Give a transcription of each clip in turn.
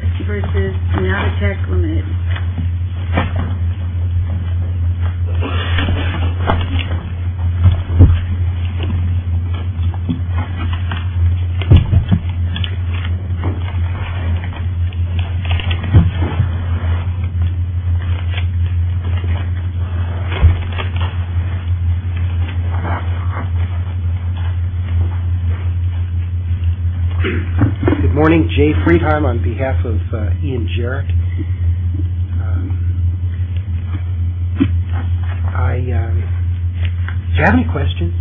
Navatek v. Navatek, LTD Good morning. Jay Freetime on behalf of Ian Jarrett. Do you have any questions?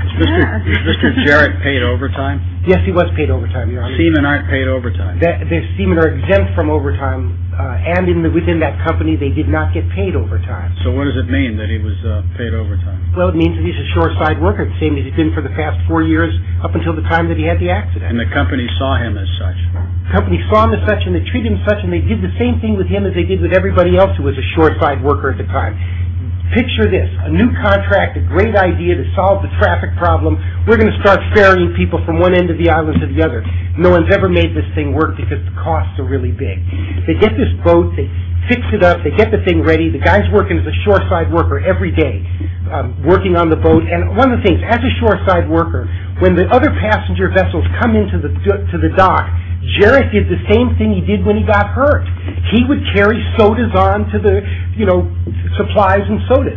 Is Mr. Jarrett paid overtime? Yes, he was paid overtime, Your Honor. Semen aren't paid overtime? The semen are exempt from overtime and within that company they did not get paid overtime. So what does it mean that he was paid overtime? Well, it means that he's a shoreside worker, the same as he's been for the past four years up until the time that he had the accident. And the company saw him as such? The company saw him as such and they treated him as such and they did the same thing with him as they did with everybody else who was a shoreside worker at the time. Picture this, a new contract, a great idea to solve the traffic problem. We're going to start ferrying people from one end of the island to the other. No one's ever made this thing work because the costs are really big. They get this boat, they fix it up, they get the thing ready. The guy's working as a shoreside worker every day, working on the boat. And one of the things, as a shoreside worker, when the other passenger vessels come into the dock, Jarrett did the same thing he did when he got hurt. He would carry sodas on to the, you know, supplies and sodas,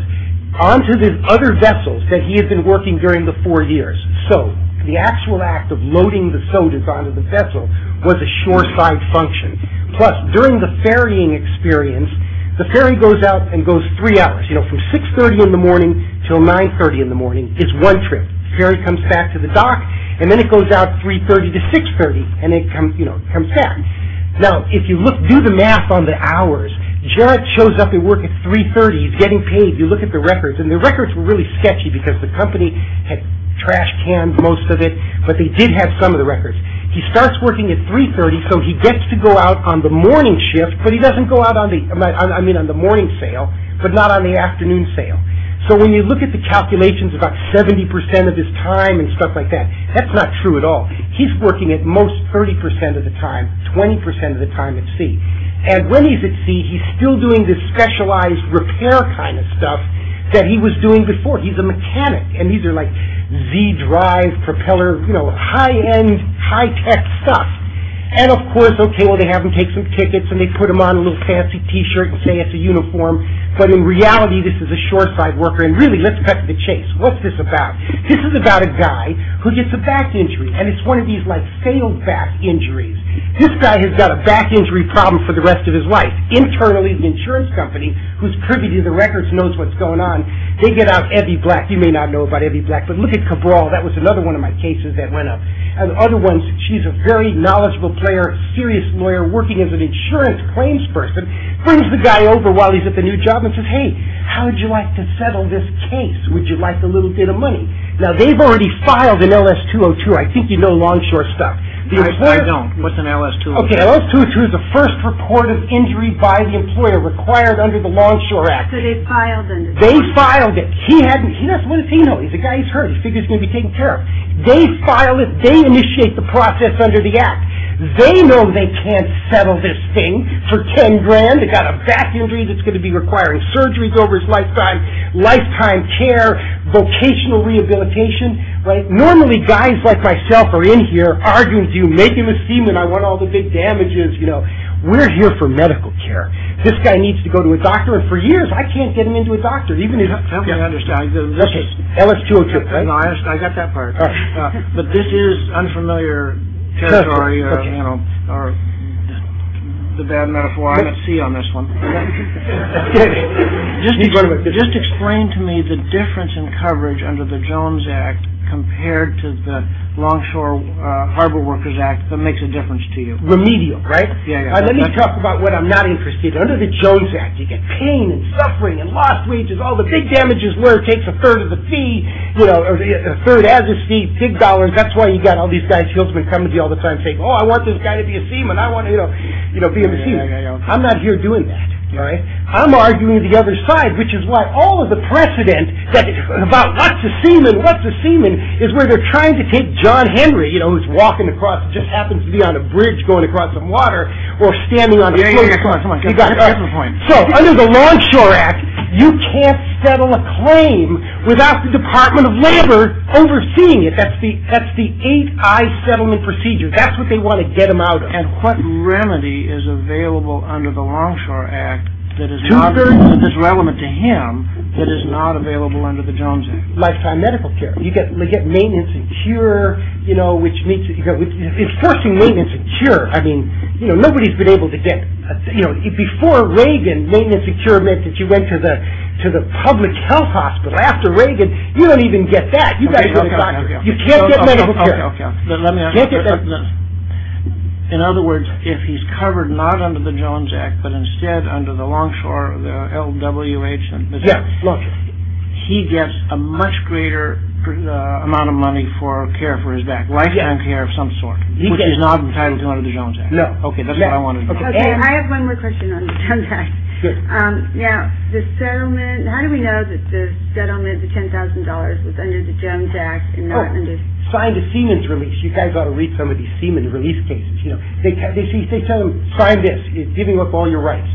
onto the other vessels that he had been working during the four years. So the actual act of loading the sodas onto the vessel was a shoreside function. Plus, during the ferrying experience, the ferry goes out and goes three hours, you know, from 6.30 in the morning until 9.30 in the morning. It's one trip. The ferry comes back to the dock, and then it goes out 3.30 to 6.30, and it comes back. Now, if you do the math on the hours, Jarrett shows up at work at 3.30. He's getting paid. You look at the records, and the records were really sketchy because the company had trash-canned most of it, but they did have some of the records. He starts working at 3.30, so he gets to go out on the morning shift, but he doesn't go out on the morning sail, but not on the afternoon sail. So when you look at the calculations about 70% of his time and stuff like that, that's not true at all. He's working at most 30% of the time, 20% of the time at sea. And when he's at sea, he's still doing this specialized repair kind of stuff that he was doing before. He's a mechanic, and these are like Z-drive propeller, you know, high-end, high-tech stuff. And, of course, okay, well, they have him take some tickets, and they put him on a little fancy T-shirt and say it's a uniform, but in reality, this is a shore-side worker, and really, let's cut to the chase. What's this about? This is about a guy who gets a back injury, and it's one of these, like, sail-back injuries. This guy has got a back injury problem for the rest of his life. Internally, the insurance company, who's privy to the records, knows what's going on. They get out Ebby Black. You may not know about Ebby Black, but look at Cabral. That was another one of my cases that went up. Another one, she's a very knowledgeable player, serious lawyer, working as an insurance claims person, brings the guy over while he's at the new job and says, hey, how would you like to settle this case? Would you like a little bit of money? Now, they've already filed an LS-202. I think you know longshore stuff. I don't. What's an LS-202? Okay, LS-202 is the first recorded injury by the employer required under the Longshore Act. So they filed it. They filed it. He hasn't. He doesn't want to say no. He's a guy who's hurt. He figures he's going to be taken care of. They file it. They initiate the process under the Act. They know they can't settle this thing for $10,000. They've got a back injury that's going to be requiring surgeries over his lifetime, lifetime care, vocational rehabilitation. Normally, guys like myself are in here arguing with you, making a scene, and I want all the big damages, you know. We're here for medical care. This guy needs to go to a doctor, and for years, I can't get him into a doctor. I understand. Okay, LS-202, right? No, I got that part. But this is unfamiliar territory or, you know, the bad metaphor. I'm at sea on this one. Just explain to me the difference in coverage under the Jones Act compared to the Longshore Harbor Workers Act that makes a difference to you. Remedial, right? Yeah, yeah. Let me talk about what I'm not interested in. Under the Jones Act, you get pain and suffering and lost wages. All the big damages where it takes a third of the fee, you know, a third as a fee, big dollars. That's why you got all these guys, salesmen, coming to you all the time saying, oh, I want this guy to be a seaman. I want to, you know, be a seaman. I'm not here doing that, all right? I'm arguing the other side, which is why all of the precedent about what's a seaman, what's a seaman, is where they're trying to take John Henry, you know, who's walking across, just happens to be on a bridge going across some water, or standing on the floor. Yeah, yeah, yeah, come on, come on, get to the point. So under the Longshore Act, you can't settle a claim without the Department of Labor overseeing it. That's the 8-I settlement procedure. That's what they want to get them out of. And what remedy is available under the Longshore Act that is relevant to him that is not available under the Jones Act? Lifetime medical care. You get maintenance and cure, you know, which means, enforcing maintenance and cure. I mean, you know, nobody's been able to get, you know, before Reagan, maintenance and cure meant that you went to the public health hospital. After Reagan, you don't even get that. You guys go to the doctor. You can't get medical care. Okay, okay. In other words, if he's covered not under the Jones Act, but instead under the Longshore, the LWH, he gets a much greater amount of money for care for his back, lifetime care of some sort, which is not entitled to under the Jones Act. No. Okay, that's what I wanted to know. Okay, I have one more question on the Jones Act. Sure. Now, the settlement, how do we know that the settlement, the $10,000 was under the Jones Act and not under... Oh, signed a Seaman's release. You guys ought to read some of these Seaman's release cases. You know, they tell them, sign this. It's giving up all your rights.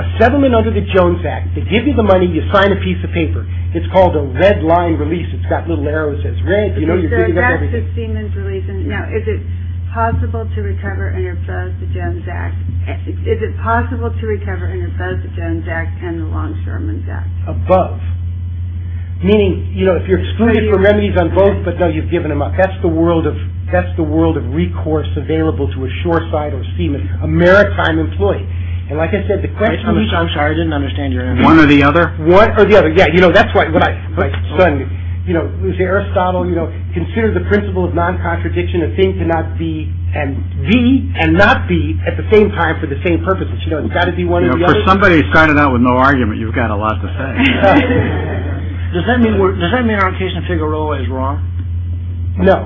A settlement under the Jones Act, they give you the money, you sign a piece of paper. It's called a red line release. It's got little arrows that says red. You know, you're picking up everything. So that's the Seaman's release. Now, is it possible to recover under both the Jones Act? Is it possible to recover under both the Jones Act and the Longshoreman's Act? Above. Meaning, you know, if you're excluded from remedies on both, but, no, you've given them up. That's the world of recourse available to a Shoreside or Seaman, a maritime employee. And like I said, the question is... I'm sorry, I didn't understand your answer. One or the other? One or the other. Yeah, you know, that's what I... You know, say Aristotle, you know, consider the principle of non-contradiction. A thing cannot be and be and not be at the same time for the same purposes. You know, it's got to be one or the other. For somebody who started out with no argument, you've got a lot to say. Does that mean our case in Figueroa is wrong? No.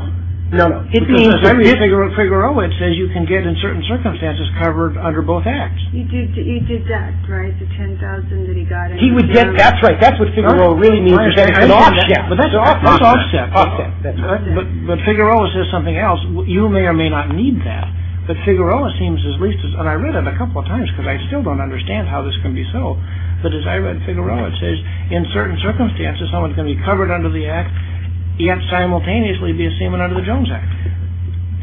No, no. Figueroa, it says you can get, in certain circumstances, covered under both acts. He did that, right? The $10,000 that he got in Figueroa. That's right. That's what Figueroa really means. It's offset. It's offset. But Figueroa says something else. You may or may not need that. But Figueroa seems as least as... And I read it a couple of times, because I still don't understand how this can be so. But as I read Figueroa, it says, in certain circumstances, someone's going to be covered under the act, yet simultaneously be a Seaman under the Jones Act.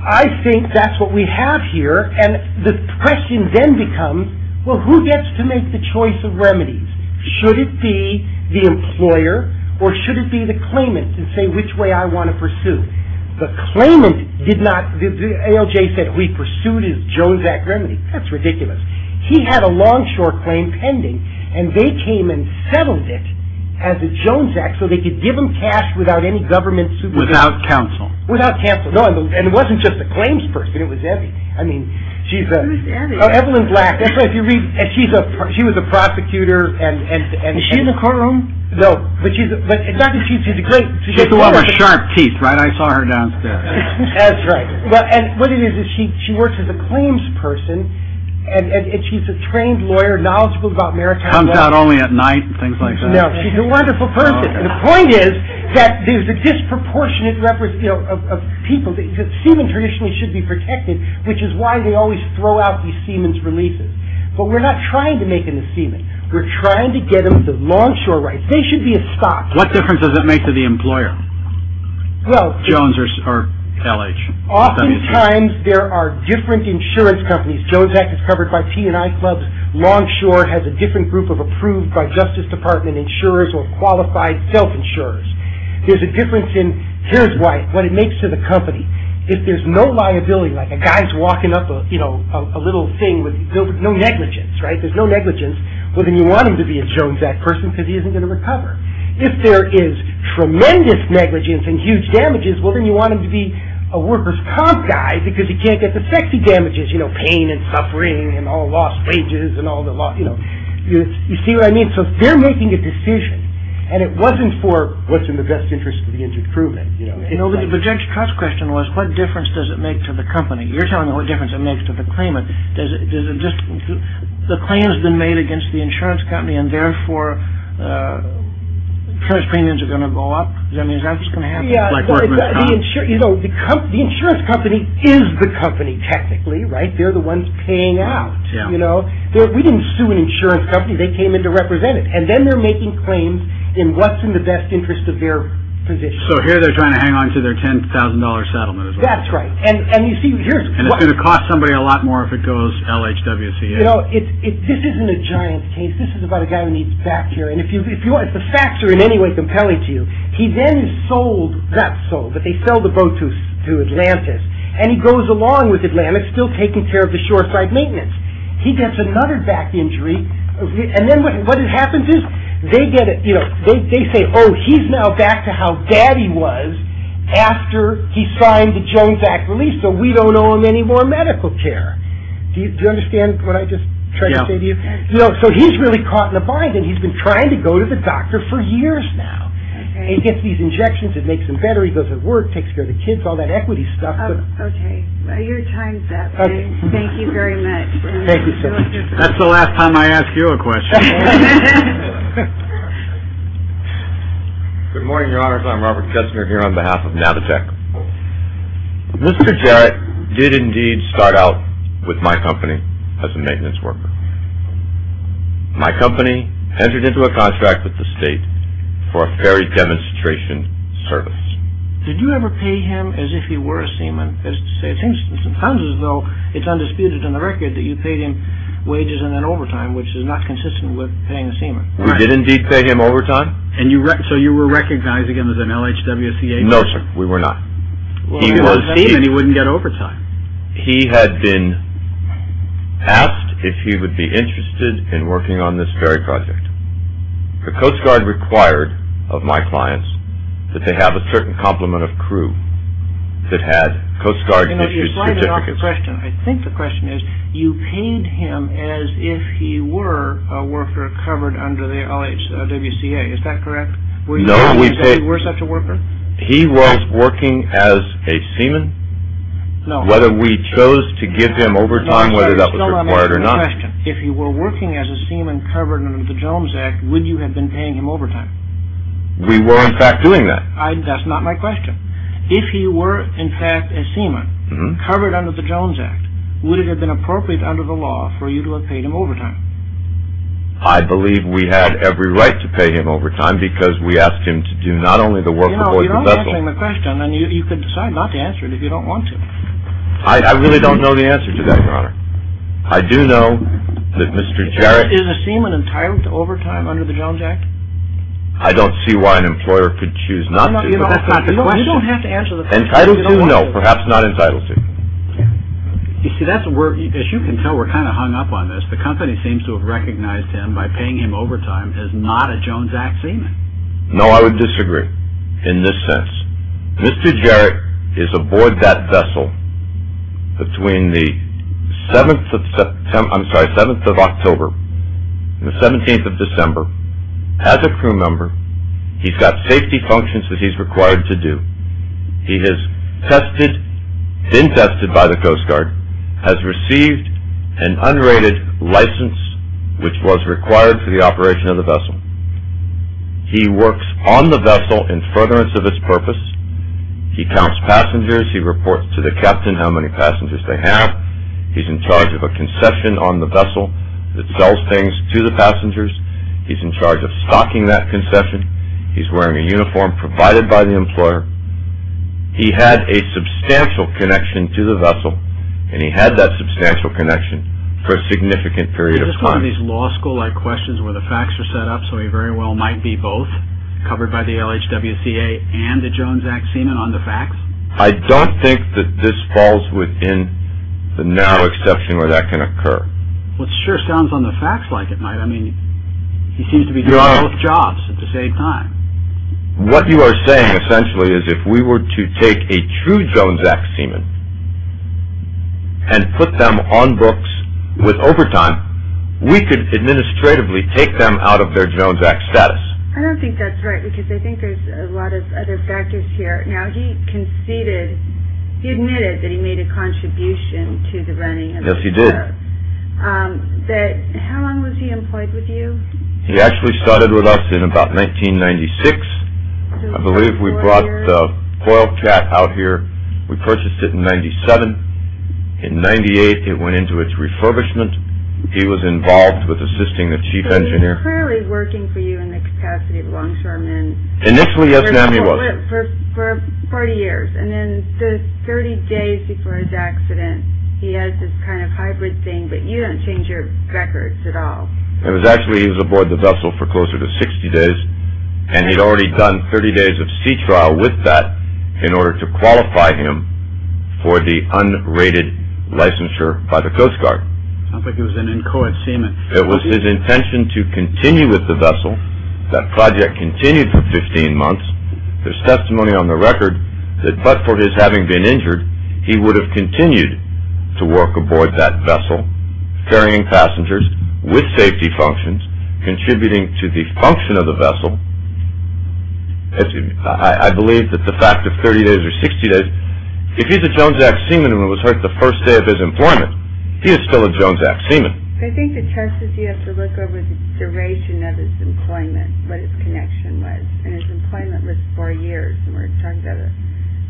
I think that's what we have here. And the question then becomes, well, who gets to make the choice of remedies? Should it be the employer, or should it be the claimant, and say which way I want to pursue? The claimant did not... ALJ said, we pursued his Jones Act remedy. That's ridiculous. He had a longshore claim pending, and they came and settled it as a Jones Act, so they could give him cash without any government supervision. Without counsel. Without counsel. No, and it wasn't just the claims person. It was Evelyn. I mean, she's a... Who's Evelyn? Evelyn Black. She was a prosecutor, and... Is she in the courtroom? No, but she's a great... She's the one with sharp teeth, right? I saw her downstairs. That's right. And what it is, is she works as a claims person, and she's a trained lawyer, knowledgeable about maritime law. Comes out only at night, and things like that. No, she's a wonderful person. The point is that there's a disproportionate number of people... Seamen traditionally should be protected, which is why they always throw out these seamen's releases. But we're not trying to make them the seamen. We're trying to get them the longshore rights. They should be a stock. What difference does it make to the employer? Jones or LH? Oftentimes, there are different insurance companies. Jones Act is covered by T&I Clubs. Longshore has a different group of approved by Justice Department insurers or qualified self-insurers. There's a difference in... Here's what it makes to the company. If there's no liability, like a guy's walking up a little thing with no negligence, there's no negligence, well, then you want him to be a Jones Act person because he isn't going to recover. If there is tremendous negligence and huge damages, well, then you want him to be a workers' comp guy because he can't get the sexy damages, pain and suffering and all the lost wages and all the... You see what I mean? So they're making a decision, and it wasn't for what's in the best interest of the injured crewman. But Judge Trott's question was, what difference does it make to the company? You're telling me what difference it makes to the claimant. Does it just... The claim has been made against the insurance company, and therefore, insurance premiums are going to go up? Does that mean that's going to happen? The insurance company is the company, technically, right? They're the ones paying out. We didn't sue an insurance company. They came in to represent it, and then they're making claims in what's in the best interest of their position. So here they're trying to hang on to their $10,000 settlement as well. That's right. And it's going to cost somebody a lot more if it goes LHWCA. This isn't a giant case. This is about a guy who needs back care, and if the facts are in any way compelling to you, he then is sold, not sold, but they sell the boat to Atlantis, and he goes along with Atlantis, still taking care of the shoreside maintenance. He gets another back injury, and then what happens is, they say, oh, he's now back to how bad he was after he signed the Jones Act release, so we don't owe him any more medical care. Do you understand what I just tried to say to you? So he's really caught in a bind, and he's been trying to go to the doctor for years now. He gets these injections. It makes him better. He goes to work, takes care of the kids, all that equity stuff. Okay. Your time's up. Thank you very much. That's the last time I ask you a question. Good morning, Your Honors. I'm Robert Kessner here on behalf of Navitek. Mr. Jarrett did indeed start out with my company as a maintenance worker. My company entered into a contract with the state for a ferry demonstration service. Did you ever pay him as if he were a seaman? That is to say, it seems to me sometimes as though it's undisputed in the record that you paid him wages and then overtime, which is not consistent with paying a seaman. We did indeed pay him overtime. So you were recognizing him as an LHWC agent? No, sir, we were not. Well, if he was a seaman, he wouldn't get overtime. He had been asked if he would be interested in working on this ferry project. The Coast Guard required of my clients that they have a certain complement of crew that had Coast Guard issued certificates. You know, you slide it off the question. I think the question is you paid him as if he were a worker covered under the LHWCA. Is that correct? No, we paid... Were you sure he was such a worker? He was working as a seaman? No. Whether we chose to give him overtime, whether that was required or not. No, I'm asking a question. If he were working as a seaman covered under the Jones Act, would you have been paying him overtime? We were, in fact, doing that. That's not my question. If he were, in fact, a seaman covered under the Jones Act, would it have been appropriate under the law for you to have paid him overtime? I believe we had every right to pay him overtime because we asked him to do not only the work the boys were supposed to do. You know, you don't answer my question, and you could decide not to answer it if you don't want to. I really don't know the answer to that, Your Honor. I do know that Mr. Jarrett... Is a seaman entitled to overtime under the Jones Act? I don't see why an employer could choose not to. That's not the question. You don't have to answer the question. Entitled to? No, perhaps not entitled to. You see, as you can tell, we're kind of hung up on this. The company seems to have recognized him by paying him overtime as not a Jones Act seaman. No, I would disagree in this sense. Mr. Jarrett is aboard that vessel between the 7th of October and the 17th of December as a crew member. He's got safety functions that he's required to do. He has tested, been tested by the Coast Guard, has received an unrated license which was required for the operation of the vessel. He works on the vessel in furtherance of its purpose. He counts passengers. He reports to the captain how many passengers they have. He's in charge of a concession on the vessel that sells things to the passengers. He's in charge of stocking that concession. He's wearing a uniform provided by the employer. He had a substantial connection to the vessel, and he had that substantial connection for a significant period of time. Is this one of these law school-like questions where the facts are set up so he very well might be both, covered by the LHWCA and the Jones Act seaman on the facts? I don't think that this falls within the narrow exception where that can occur. Well, it sure sounds on the facts like it might. I mean, he seems to be doing both jobs at the same time. What you are saying essentially is if we were to take a true Jones Act seaman and put them on books with overtime, we could administratively take them out of their Jones Act status. I don't think that's right because I think there's a lot of other factors here. Now, he conceded. He admitted that he made a contribution to the running of the LHWCA. How long was he employed with you? He actually started with us in about 1996. I believe we brought the Coil Cat out here. We purchased it in 97. In 98, it went into its refurbishment. He was involved with assisting the chief engineer. So he was clearly working for you in the capacity of longshoreman. Initially, yes, ma'am, he was. For 40 years, and then 30 days before his accident, he has this kind of hybrid thing, but you don't change your records at all. Actually, he was aboard the vessel for closer to 60 days, and he'd already done 30 days of sea trial with that in order to qualify him for the unrated licensure by the Coast Guard. It sounds like he was an inchoate seaman. It was his intention to continue with the vessel. That project continued for 15 months. There's testimony on the record that but for his having been injured, he would have continued to work aboard that vessel, carrying passengers with safety functions, contributing to the function of the vessel. I believe that the fact of 30 days or 60 days, if he's a Jones Act seaman and was hurt the first day of his employment, he is still a Jones Act seaman. I think the chances you have to look over the duration of his employment, what his connection was, and his employment was four years,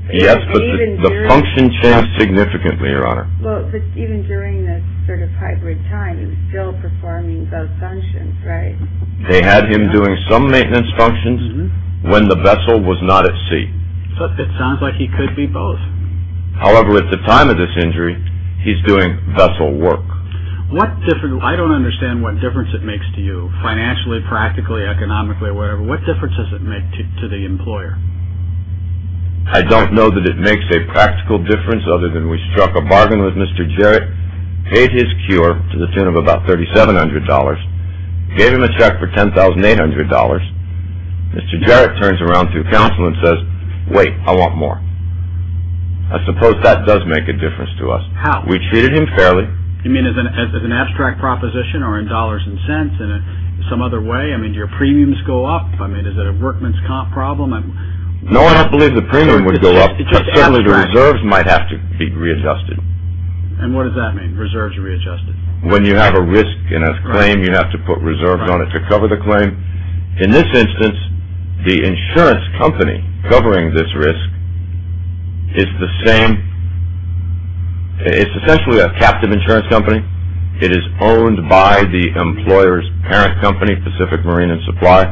Yes, but the function changed significantly, Your Honor. They had him doing some maintenance functions when the vessel was not at sea. It sounds like he could be both. However, at the time of this injury, he's doing vessel work. I don't understand what difference it makes to you, financially, practically, economically, whatever. What difference does it make to the employer? I don't know that it makes a practical difference other than we struck a bargain with Mr. Jarrett, paid his cure to the tune of about $3,700, gave him a check for $10,800. Mr. Jarrett turns around to counsel and says, Wait, I want more. I suppose that does make a difference to us. How? We treated him fairly. You mean as an abstract proposition or in dollars and cents in some other way? Do your premiums go up? Is it a workman's comp problem? No, I don't believe the premium would go up. Certainly, the reserves might have to be readjusted. What does that mean, reserves are readjusted? When you have a risk in a claim, you have to put reserves on it to cover the claim. In this instance, the insurance company covering this risk is the same. It's essentially a captive insurance company. It is owned by the employer's parent company, Pacific Marine and Supply.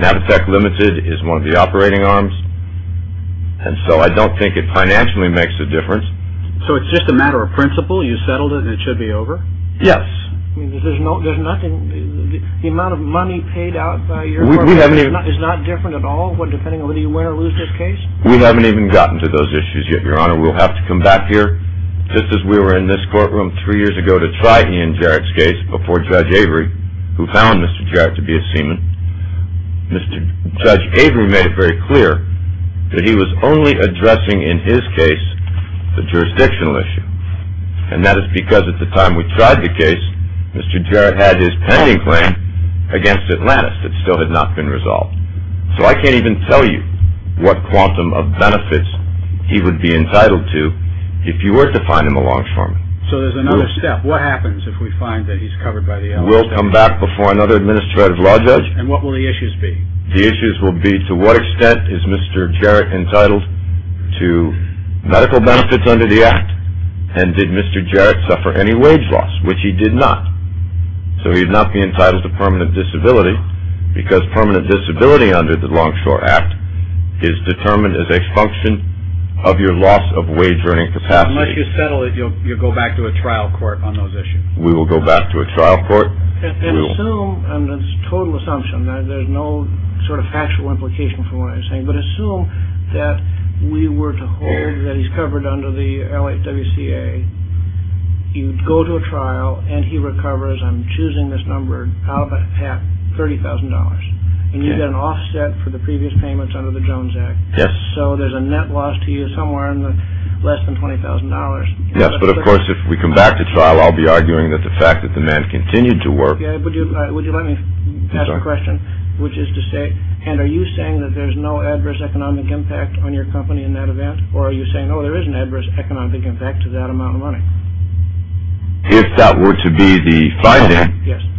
Natitech Limited is one of the operating arms. And so I don't think it financially makes a difference. So it's just a matter of principle? You settled it and it should be over? Yes. There's nothing? The amount of money paid out by your corporation is not different at all depending on whether you win or lose this case? We haven't even gotten to those issues yet, Your Honor. We'll have to come back here. Just as we were in this courtroom three years ago to try Ian Jarrett's case before Judge Avery, who found Mr. Jarrett to be a seaman, Judge Avery made it very clear that he was only addressing in his case the jurisdictional issue. And that is because at the time we tried the case, Mr. Jarrett had his pending claim against Atlantis that still had not been resolved. So I can't even tell you what quantum of benefits he would be entitled to if you were to find him a longshoreman. So there's another step. What happens if we find that he's covered by the LLC? We'll come back before another administrative law judge. And what will the issues be? The issues will be to what extent is Mr. Jarrett entitled to medical benefits under the Act, and did Mr. Jarrett suffer any wage loss, which he did not. So he would not be entitled to permanent disability because permanent disability under the Longshore Act is determined as a function of your loss of wage earning capacity. Unless you settle it, you'll go back to a trial court on those issues. We will go back to a trial court. And assume, and it's a total assumption. There's no sort of factual implication for what I'm saying. But assume that we were to hold that he's covered under the LHWCA. You go to a trial, and he recovers, I'm choosing this number, out of a hat, $30,000. And you get an offset for the previous payments under the Jones Act. Yes. So there's a net loss to you somewhere in the less than $20,000. Yes, but of course if we come back to trial, I'll be arguing that the fact that the man continued to work. Would you let me ask a question, which is to say, and are you saying that there's no adverse economic impact on your company in that event? Or are you saying, oh, there is an adverse economic impact to that amount of money? If that were to be the finding,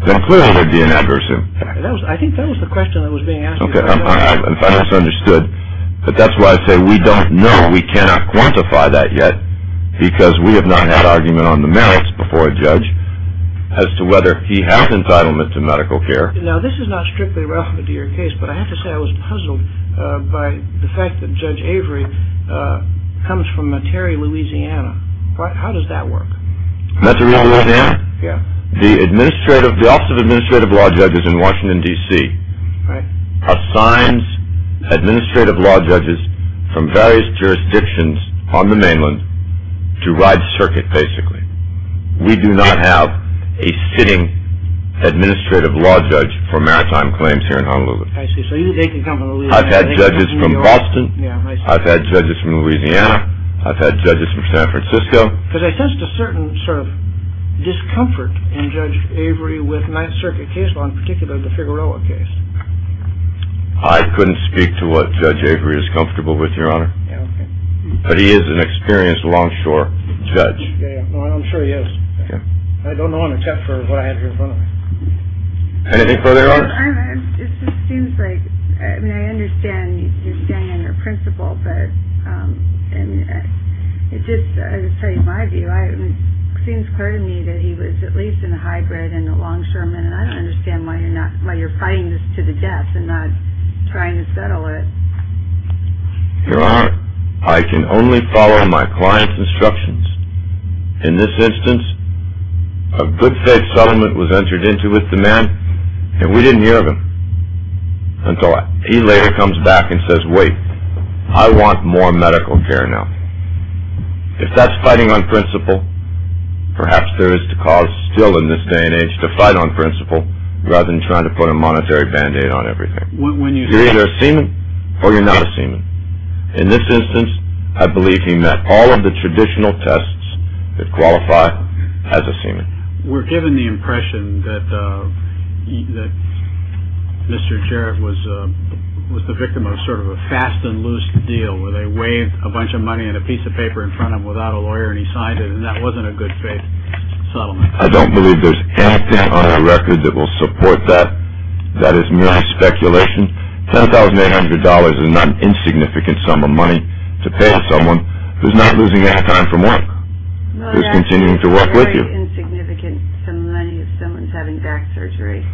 then clearly there'd be an adverse impact. I think that was the question that was being asked. Okay, I misunderstood. But that's why I say we don't know. We cannot quantify that yet because we have not had argument on the merits before a judge as to whether he has entitlement to medical care. Now this is not strictly relevant to your case, but I have to say I was puzzled by the fact that Judge Avery comes from Metairie, Louisiana. How does that work? Metairie, Louisiana? Yes. The Office of Administrative Law Judges in Washington, D.C. assigns administrative law judges from various jurisdictions on the mainland to ride circuit, basically. We do not have a sitting administrative law judge for maritime claims here in Honolulu. I see, so they can come from Louisiana. I've had judges from Boston. I've had judges from Louisiana. I've had judges from San Francisco. Because I sensed a certain sort of discomfort in Judge Avery with my circuit case law, in particular the Figueroa case. I couldn't speak to what Judge Avery is comfortable with, Your Honor. But he is an experienced longshore judge. I'm sure he is. I don't know on a test for what I have here in front of me. Anything further, Your Honor? Your Honor, it just seems like, I mean, I understand you're standing under a principal, but it just, I'll tell you my view. It seems clear to me that he was at least in the high grade and a longshoreman, and I don't understand why you're fighting this to the death and not trying to settle it. Your Honor, I can only follow my client's instructions. In this instance, a good faith settlement was entered into with the man, and we didn't hear of him until he later comes back and says, wait, I want more medical care now. If that's fighting on principle, perhaps there is cause still in this day and age to fight on principle rather than trying to put a monetary band-aid on everything. You're either a seaman or you're not a seaman. In this instance, I believe he met all of the traditional tests that qualify as a seaman. We're given the impression that Mr. Jarrett was the victim of sort of a fast and loose deal where they waived a bunch of money and a piece of paper in front of him without a lawyer, and he signed it, and that wasn't a good faith settlement. I don't believe there's anything on the record that will support that. That is mere speculation. $10,800 is not an insignificant sum of money to pay someone who's not losing any time from work, who's continuing to work with you. Well, that's very insignificant sum of money if someone's having back surgery.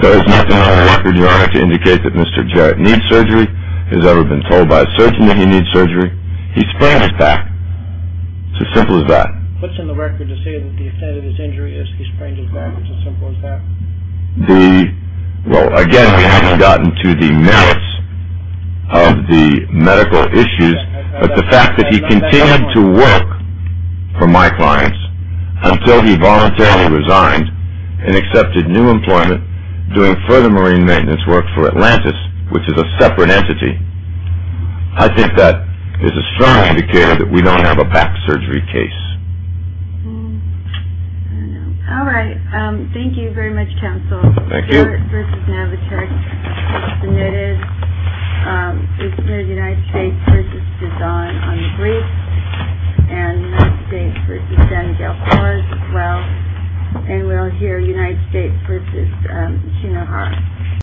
There is nothing on the record, Your Honor, to indicate that Mr. Jarrett needs surgery. He's never been told by a surgeon that he needs surgery. He sprains his back. It's as simple as that. What's on the record to say that the extent of his injury is he sprains his back? It's as simple as that. Well, again, we haven't gotten to the merits of the medical issues, but the fact that he continued to work for my clients until he voluntarily resigned and accepted new employment doing further marine maintenance work for Atlantis, which is a separate entity, I think that is a strong indicator that we don't have a back surgery case. All right. Thank you very much, counsel. Thank you. United States v. Navatrex was submitted. We submitted United States v. Cezanne on the brief, and United States v. San Miguel Torres as well. And we'll hear United States v. Shinohara.